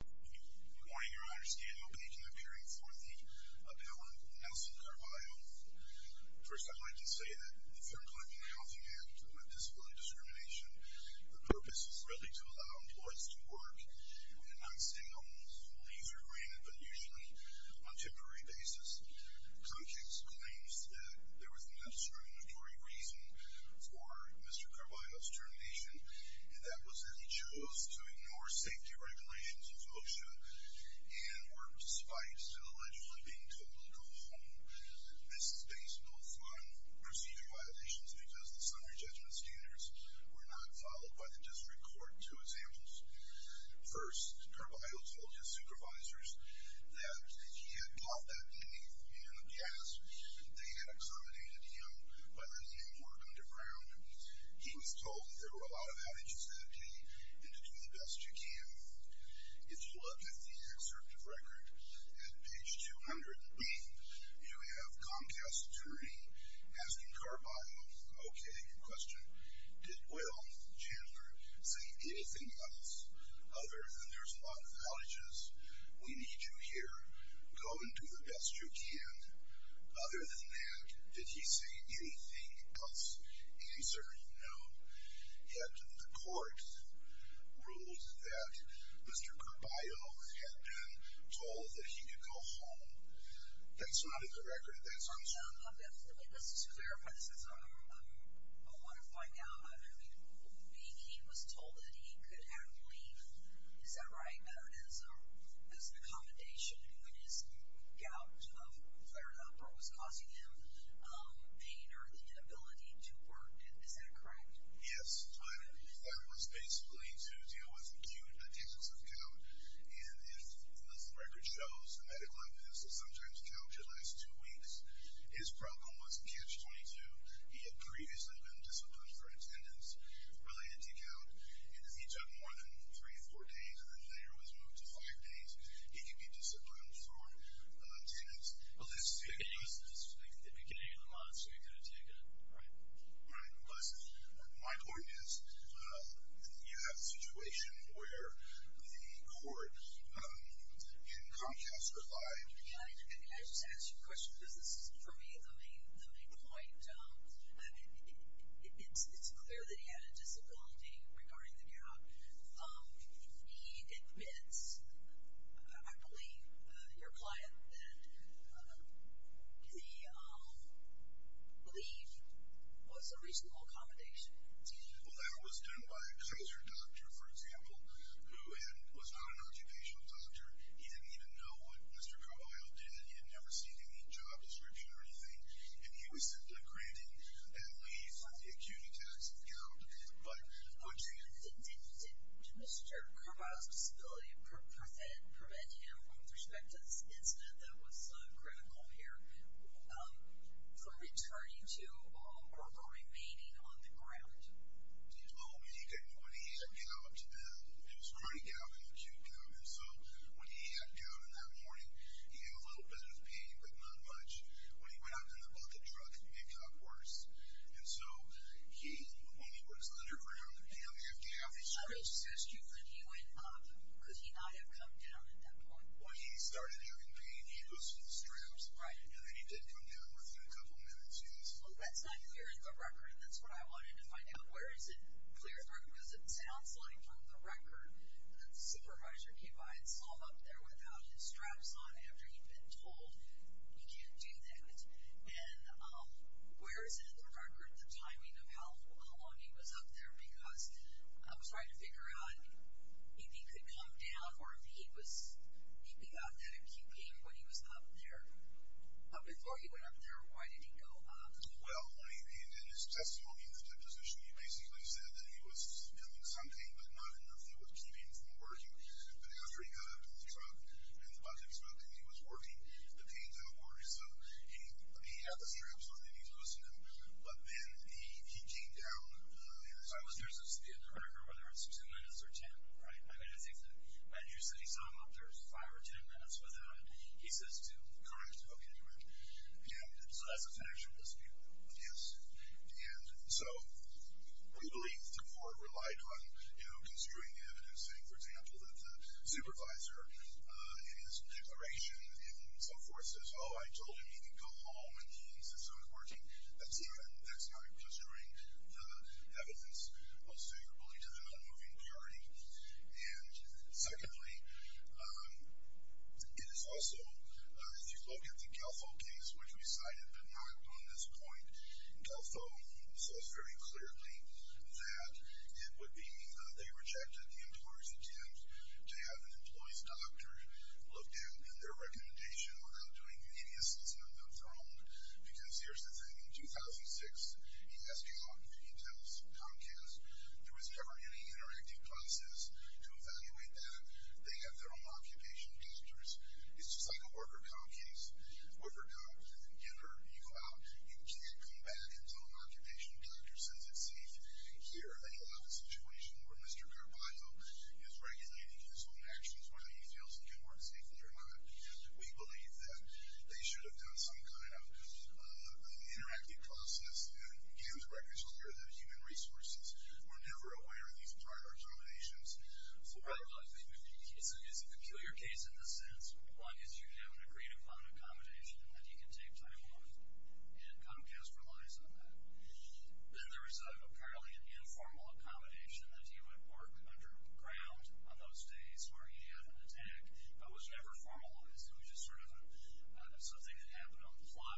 Good morning your honor, stand open at your next hearing for the appellant Nelson Carballo. First, I'd like to say that the Fair Employment and Health Act, with disability discrimination, the purpose is really to allow employees to work in non-singles, leaves are granted, but usually on a temporary basis. Comcast claims that there was enough discriminatory reason for Mr. Carballo's termination, and that was that he chose to ignore safety regulations of OSHA, and were despised for allegedly being told to go home. This is based both on procedure violations because the summary judgment standards were not followed by the district court. Two examples. First, Carballo told his supervisors that if he had bought that beneath him in a gas, they had excominated him by letting him work underground. He was told that there were a lot of outages that day, and to do the best you can. If you look at the excerpt of record, at page 200, you have Comcast's attorney asking Carballo, okay, your question, did Will Chandler say anything else other than there's a lot of outages, we need you here, go and do the best you can. Other than that, did he say anything else? The answer is no. Yet the court ruled that Mr. Carballo had been told that he could go home. That's not in the record. That's on something else. Let's just clarify this. I want to find out, I mean, he was told that he could have to leave, is that right? He was told that it was an accommodation when his gout flared up or was causing him pain or the inability to work. Is that correct? Yes. But that was basically to deal with acute attendance of gout. And as the record shows, the medical evidence sometimes calculates two weeks. His problem was catch-22. He had previously been disciplined for attendance-related gout. He took more than three, four days, and then later was moved to five days. He could be disciplined for attendance. Well, this is the beginning of the month, so he could have taken it, right? Right. But my point is you have a situation where the court in Comcast replied- Can I just ask you a question? Because this is, for me, the main point. It's clear that he had a disability regarding the gout. He admits, I believe, your client that the leave was a reasonable accommodation. Well, that was done by a Kaiser doctor, for example, who was not an occupational doctor. He didn't even know what Mr. Carballo did. He had never seen any job description or anything. And he was granted leave for the acute attacks of gout. Did Mr. Carballo's disability prevent him, with respect to this incident that was critical here, from returning to or remaining on the ground? Oh, when he had gout, it was chronic gout and acute gout. And so when he had gout in that morning, he had a little bit of pain, but not much. When he went up in the bucket truck, it got worse. And so when he was littered around, he only had to have a shirt on. I just asked you, when he went up, could he not have come down at that point? When he started having pain, he was with straps. Right. And then he did come down within a couple minutes, yes. Well, that's not clear in the record, and that's what I wanted to find out. Where is it clear, because it sounds like, from the record, that the supervisor came by and saw him up there without his straps on after he'd been told he can't do that. And where is it in the record the timing of how long he was up there? Because I'm trying to figure out if he could come down or if he got that acute pain when he was up there. Before he went up there, why did he go up? Well, in his testimony in the deposition, he basically said that he was feeling something, but not enough that was keeping him from working. But after he got up and threw up, and the budget was up, and he was working, the pain got worse. So he had the straps on, and he was listening. But then he came down. So there's a speed in the record, whether it's two minutes or ten, right? I mean, I think that you said he saw him up there five or ten minutes without it. He says two. Correct. Okay. And so that's a factual dispute. Yes. And so we believe the court relied on, you know, pursuing evidence, saying, for example, that the supervisor in his declaration and so forth says, oh, I told him he can go home and he insists on working. That's not pursuing the evidence most favorably to the nonmoving party. And secondly, it is also, if you look at the Gelfo case, which we cited but not on this point, Gelfo says very clearly that it would be, they rejected the employer's attempt to have an employee's doctor look down on their recommendation without doing any assessment of their own. Because here's the thing. In 2006, he asked you all, he tells Comcast, there was never any interactive classes to evaluate that. They have their own occupational doctors. It's just like a worker com case. Worker comes in, get her, you go out. You can't come back until an occupational doctor says it's safe. Here, they allow a situation where Mr. Carbato is regulating his own actions, whether he feels it can work safely or not. We believe that they should have done some kind of interactive process and gave us records earlier that human resources were never aware of these prior examinations. Right. Well, I think it's a peculiar case in the sense, one, is you have an agreed upon accommodation that you can take time off, and Comcast relies on that. Then there was apparently an informal accommodation that he would work underground on those days where he had an attack, but was never formalized. It was just sort of something that happened on the fly.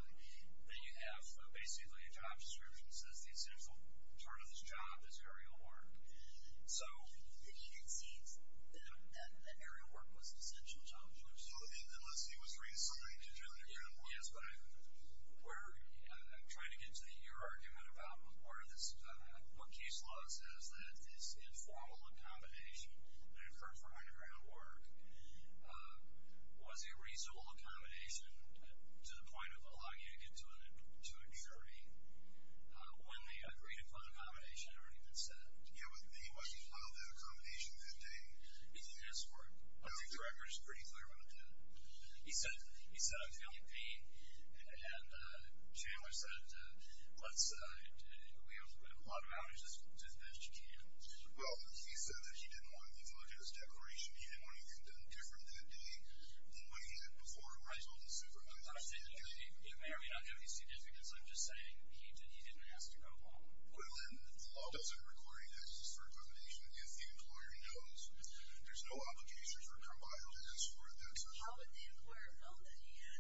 Then you have basically a job description that says the essential part of this job is aerial work. So he had seen that aerial work was an essential job. So unless he was reassigned to do the ground work. Yes, but I'm trying to get to your argument about what case law says, that this informal accommodation that occurred for underground work was a reasonable accommodation to the point of allowing you to get to a jury when the agreed upon accommodation had already been set. Yeah, but he must have filed that accommodation that day. He did his work. I think the record is pretty clear when it did. He said he was feeling pain, and Chandler said, let's do a lot of outages as best you can. Well, he said that he didn't want to look at his declaration. He didn't want anything done different that day than what he did before he was able to supervise. It may or may not have any significance. I'm just saying he didn't ask to go home. Well, then the law doesn't require you to ask this for accommodation if the employer knows. There's no obligation for a compiler to ask for it that day. How would the employer have known that he had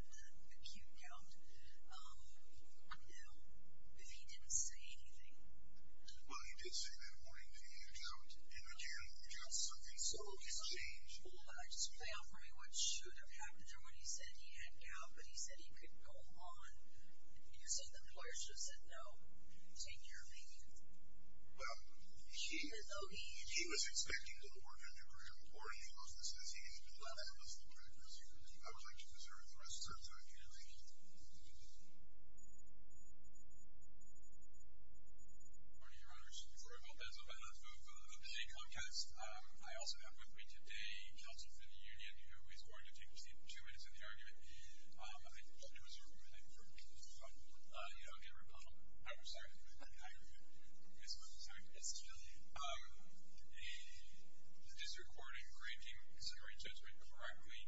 acute gout if he didn't say anything? Well, he did say that morning that he had gout, and again, gout is something so easy to change. Hold on, just play out for me what should have happened to him when he said he had gout, but he said he could go on. You're saying the employer should have said no, in your opinion? Well, he was expecting to work a new career, but morning he goes and says he needs to do that. I was like, you deserve the rest of the time. Thank you. Good morning, Your Honors. Before I move on, I'd like to move on to the upcoming podcast. I also have with me today counsel for the union, who is going to take a seat for two minutes in the argument. I just want to reserve a moment for a brief rebuttal. I'm sorry. I misspoke. Sorry. It's okay. The district court in granting summary judgment correctly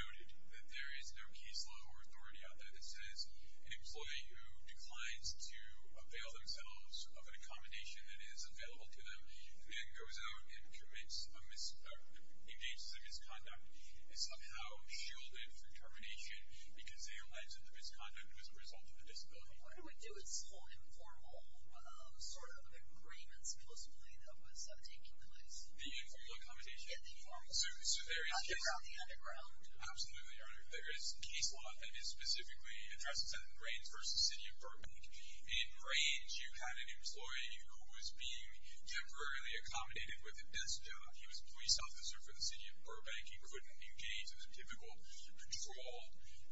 noted that there is no case law or authority out there that says an employee who declines to avail themselves of an accommodation that is available to them and goes out and commits a misconduct is somehow shielded from termination because they allege that the misconduct was a result of a disability. What do we do with this whole informal sort of agreements, supposedly, that was taking place? The informal accommodation? Yeah, the informal. Underground. The underground. Absolutely, Your Honor. There is case law that is specifically addressed in Rains versus the city of Burbank. In Rains, you had an employee who was being temporarily accommodated with a desk job. He was a police officer for the city of Burbank. He couldn't engage in the typical patrol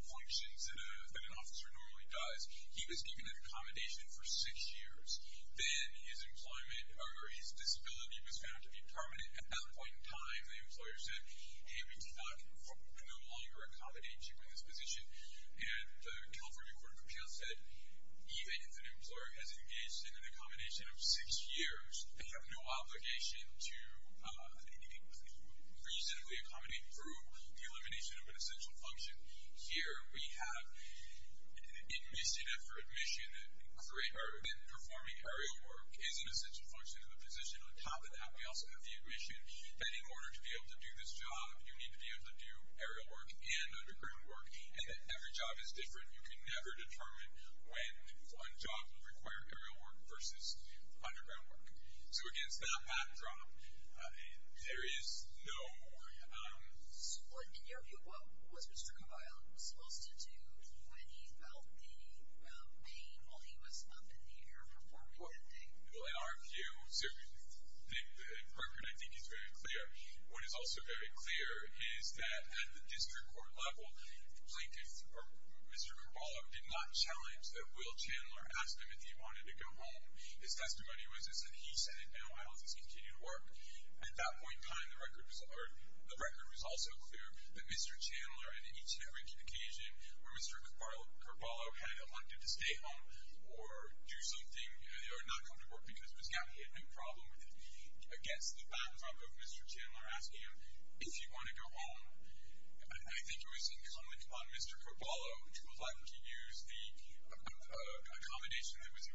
functions that an officer normally does. He was given an accommodation for six years. Then his employment or his disability was found to be permanent. At that point in time, the employer said, hey, we cannot no longer accommodate you in this position. And the California Court of Appeals said even if an employer has engaged in an accommodation of six years, they have no obligation to reasonably accommodate through the elimination of an essential function. Here we have admission after admission. Performing aerial work is an essential function of the position. On top of that, we also have the admission that in order to be able to do this job, you need to be able to do aerial work and underground work, and that every job is different. You can never determine when one job would require aerial work versus underground work. So against that backdrop, there is no more. In your view, what was Mr. Caballa supposed to do when he felt the pain while he was up in the air performing that thing? Well, in our view, I think he's very clear. What is also very clear is that at the district court level, Mr. Caballa did not challenge that Will Chandler asked him if he wanted to go home. His testimony was that he said, no, I'll just continue to work. At that point in time, the record was also clear that Mr. Chandler, at each and every occasion where Mr. Caballa had elected to stay home or do something or not come to work because it was not a problem, against the backdrop of Mr. Chandler asking him if he wanted to go home, I think it was incumbent upon Mr. Caballa to elect to use the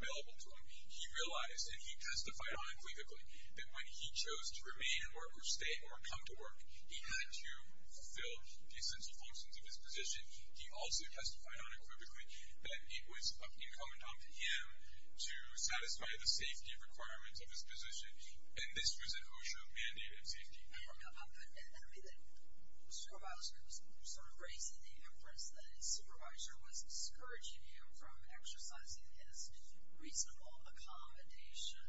He realized, and he testified unequivocally, that when he chose to remain at work or stay or come to work, he had to fulfill the essential functions of his position. He also testified unequivocally that it was incumbent upon him to satisfy the safety requirements of his position, and this was an OSHA mandated safety requirement. I mean, the supervisor was sort of raising the inference that his supervisor was discouraging him from exercising his reasonable accommodation.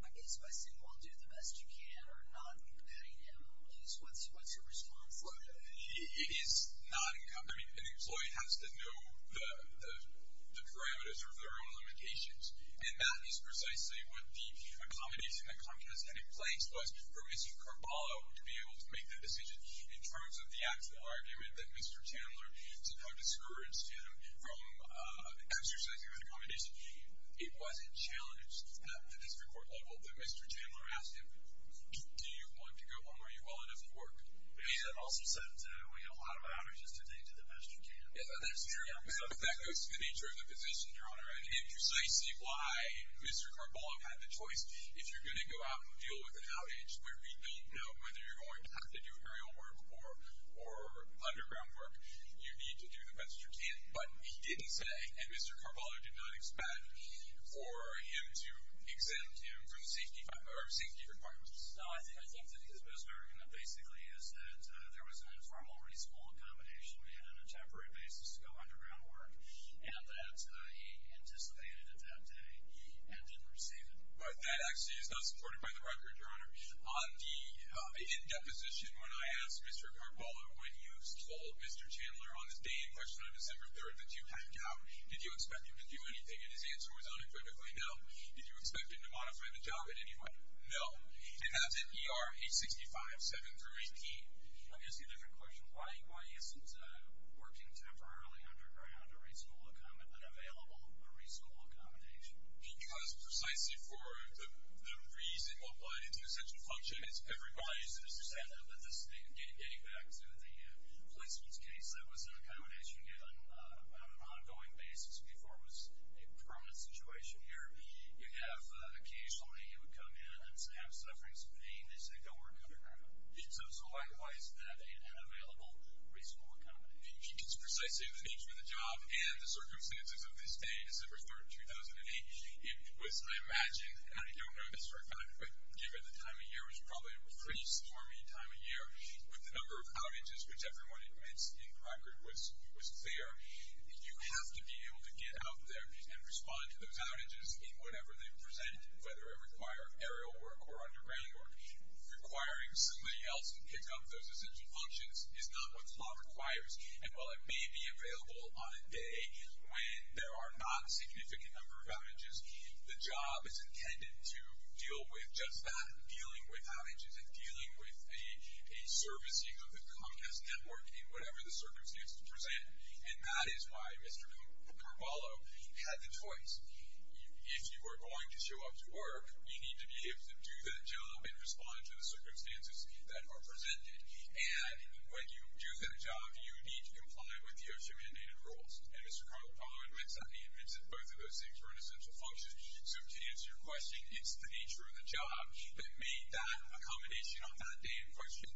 I guess by saying, well, do the best you can or not letting him, what's your response to that? It is not incumbent. I mean, an employee has to know the parameters of their own limitations, and that is precisely what the accommodation that Comcast had in place was for Mr. Caballa to be able to make that decision in terms of the Mr. Chandler to discourage him from exercising that accommodation. It wasn't challenged at the district court level, but Mr. Chandler asked him, do you want to go home? Are you well enough at work? He had also said that we had a lot of outages today, do the best you can. That goes to the nature of the position, Your Honor, and precisely why Mr. Caballa had the choice. If you're going to go out and deal with an outage where we don't know whether you're going to have to do aerial work or underground work, you need to do the best you can. But he didn't say, and Mr. Caballa did not expect, for him to exempt him from the safety requirements. No, I think that he was most American. That basically is that there was an informal reasonable accommodation. We had an intemporary basis to go underground work, and that he anticipated it that day and didn't receive it. But that actually is not supported by the record, Your Honor. In deposition, when I asked Mr. Caballa, when you told Mr. Chandler on the day in question, on December 3rd, that you had a job, did you expect him to do anything? And his answer was unequivocally no. Did you expect him to modify the job at any point? No. And that's at ER 865, 7 through 18. Let me ask you a different question. Why isn't working temporarily underground an available reasonable accommodation? Because precisely for the reason applied into essential function, it's everybody's. Mr. Chandler, getting back to the policeman's case, that was an accommodation on an ongoing basis before it was a permanent situation here. You have occasionally you would come in and have sufferings of pain. They say don't work underground. So why is that an unavailable reasonable accommodation? Because precisely of the nature of the job and the circumstances of this day, December 3rd, 2008, it was, I imagine, and I don't know this for a fact, but given the time of year was probably a pretty stormy time of year, with the number of outages, which everyone admits in Crockert was clear, you have to be able to get out there and respond to those outages in whatever they present, whether it require aerial work or underground work. Requiring somebody else to pick up those essential functions is not what the law requires. And while it may be available on a day when there are not a significant number of outages, the job is intended to deal with just that, dealing with outages and dealing with a servicing of the Comcast network in whatever the circumstances present. And that is why Mr. Carballo had the choice. If you were going to show up to work, you need to be able to do that job and respond to the circumstances that are presented. And when you do that job, you need to comply with the OSHA mandated rules. And Mr. Carballo admits that. He admits that both of those things were an essential function. So to answer your question, it's the nature of the job that made that accommodation on that day in question,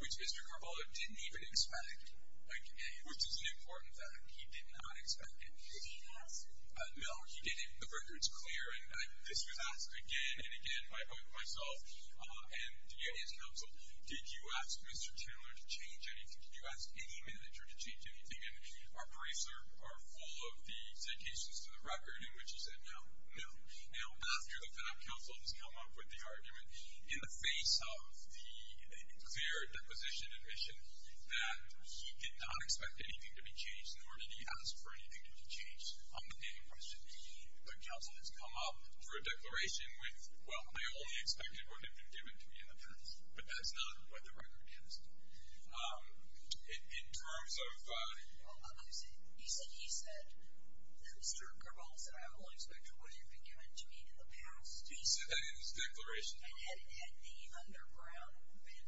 which Mr. Carballo didn't even expect, which is an important fact. He did not expect it. Did he ask? No, he didn't. The record's clear. And this was asked again and again by both myself and his counsel. Did you ask Mr. Chandler to change anything? Did you ask any manager to change anything? And our briefs are full of the citations to the record in which he said no, no. Now, after the fact, counsel has come up with the argument in the face of the clear deposition admission that he did not expect anything to be changed, nor did he ask for anything to be changed on the day in question. The counsel has come up for a declaration with, well, I only expected what had been given to me in the past. But that's not what the record is. In terms of ---- Well, you said he said that Mr. Carballo said, I only expected what had been given to me in the past. He said that in his declaration. And had the underground been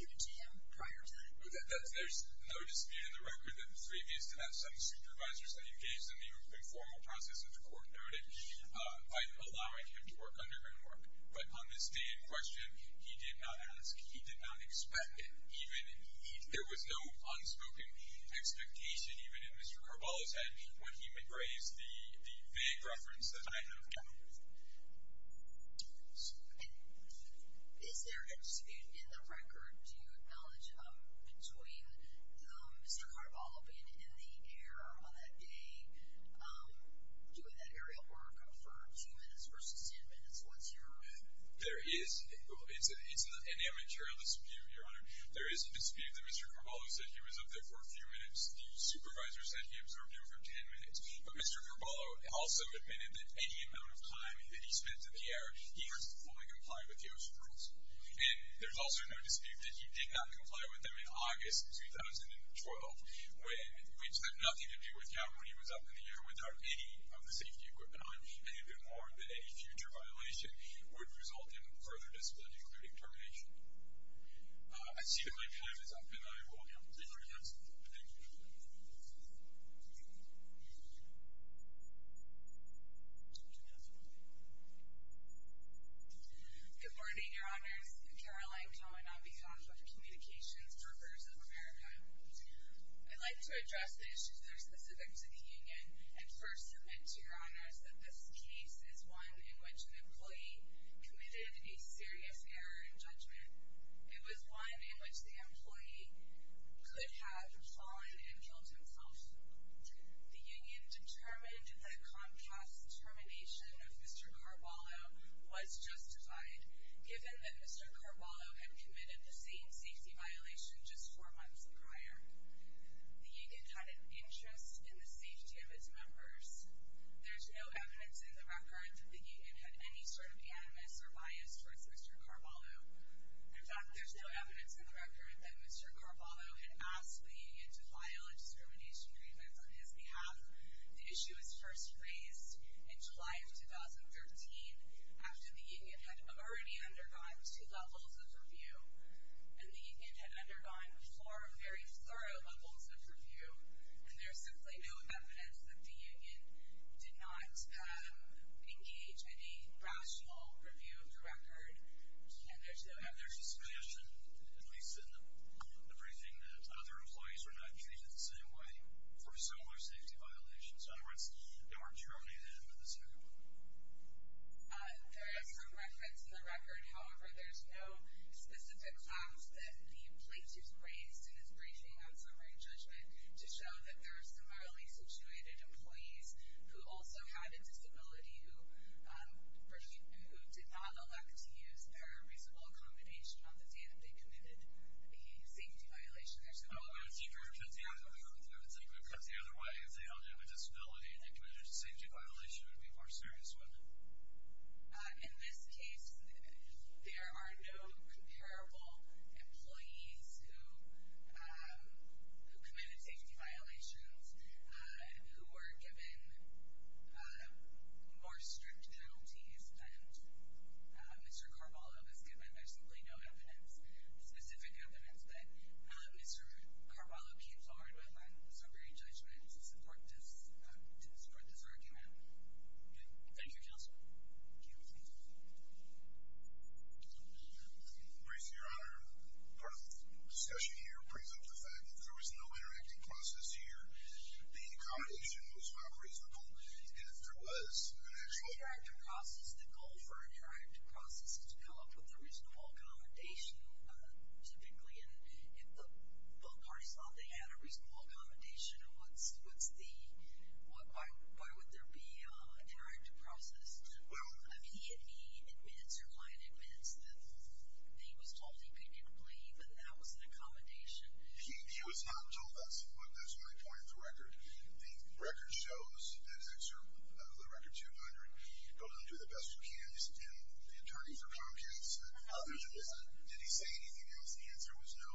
given to him prior to that. There's no dispute in the record that the three of these did have some supervisors that engaged in the informal process, as the court noted, by allowing him to work underground work. But on this day in question, he did not ask. He did not expect it. There was no unspoken expectation, even in Mr. Carballo's head, when he raised the vague reference that I have given. And is there a dispute in the record, do you acknowledge, between Mr. Carballo being in the air on that day, doing that aerial work for two minutes versus ten minutes? What's your argument? There is. It's an amateurial dispute, Your Honor. There is a dispute that Mr. Carballo said he was up there for a few minutes. The supervisor said he observed him for ten minutes. But Mr. Carballo also admitted that any amount of time that he spent in the air, he was fully complying with the ocean rules. And there's also no dispute that he did not comply with them in August 2012, which had nothing to do with Cal when he was up in the air without any of the safety equipment on, and even more, that any future violation would result in further disciplinary determination. I see that my time is up, and I will conclude my counsel. Thank you. Thank you. Good morning, Your Honors. Caroline Cohen on behalf of the Communications Workers of America. I'd like to address the issues that are specific to the union and first submit to Your Honors that this case is one in which an employee committed a serious error in judgment. It was one in which the employee could have fallen and killed himself. The union determined that Comcast's determination of Mr. Carballo was justified given that Mr. Carballo had committed the same safety violation just four months prior. The union had an interest in the safety of its members. There's no evidence in the record that the union had any sort of animus or bias towards Mr. Carballo. In fact, there's no evidence in the record that Mr. Carballo had asked the union to file a discrimination grievance on his behalf. The issue was first raised in July of 2013 after the union had already undergone two levels of review. And the union had undergone four very thorough levels of review. And there's simply no evidence that the union did not engage in a rational review of the record. And there's no evidence. And there's a suggestion, at least in the briefing, that other employees were not treated the same way for similar safety violations. In other words, they weren't terminated at the end of the second one. There is some reference in the record. However, there's no specific class that the plaintiff's raised in his briefing on summary judgment to show that there are similarly situated employees who also had a disability who did not elect to use their reasonable accommodation on the day that they committed a safety violation. There's no evidence. Well, it's easier to say that we don't have a disability because the other way, if they only have a disability and they committed a safety violation, it would be more serious, wouldn't it? In this case, there are no comparable employees who committed safety violations who were given more strict penalties than Mr. Carballo was given. There's simply no evidence, specific evidence, that Mr. Carballo came forward with on summary judgment to support this argument. Thank you, Counsel. Briefe, Your Honor, part of the discussion here brings up the fact that if there was no interactive process here, the accommodation was not reasonable, and if there was an actual… The interactive process, the goal for an interactive process is to come up with a reasonable accommodation, typically, and if the parties thought they had a reasonable accommodation, why would there be an interactive process? If he admits or a client admits that he was told he couldn't leave and that was an accommodation… He was not told that's my point of the record. The record shows, in the record 200, don't do the best you can, and the attorney for Comcast said, did he say anything else? The answer was no.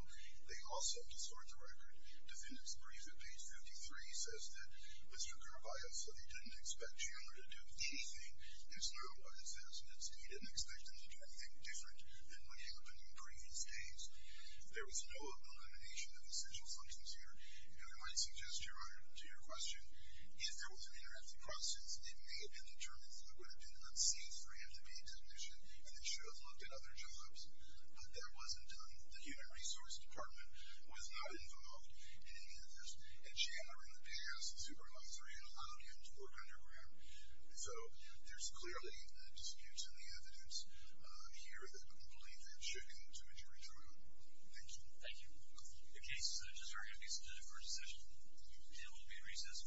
They also distort the record. Defendant's brief at page 53 says that Mr. Carballo said he didn't expect you to do anything. There's no evidence that he didn't expect them to do anything different than what happened in previous days. There was no elimination of essential functions here, and I might suggest, Your Honor, to your question, if there was an interactive process, it may have been determined that it would have been unsafe for him to be a technician and that he should have looked at other jobs, but that wasn't done. The human resource department was not involved in any of this, and Chandler, in the past, the supervisor, had allowed him to work underground, so there's clearly disputes in the evidence here that I don't believe should lead to a jury trial. Thank you. Thank you. The case is adjourned. We'll be in recess.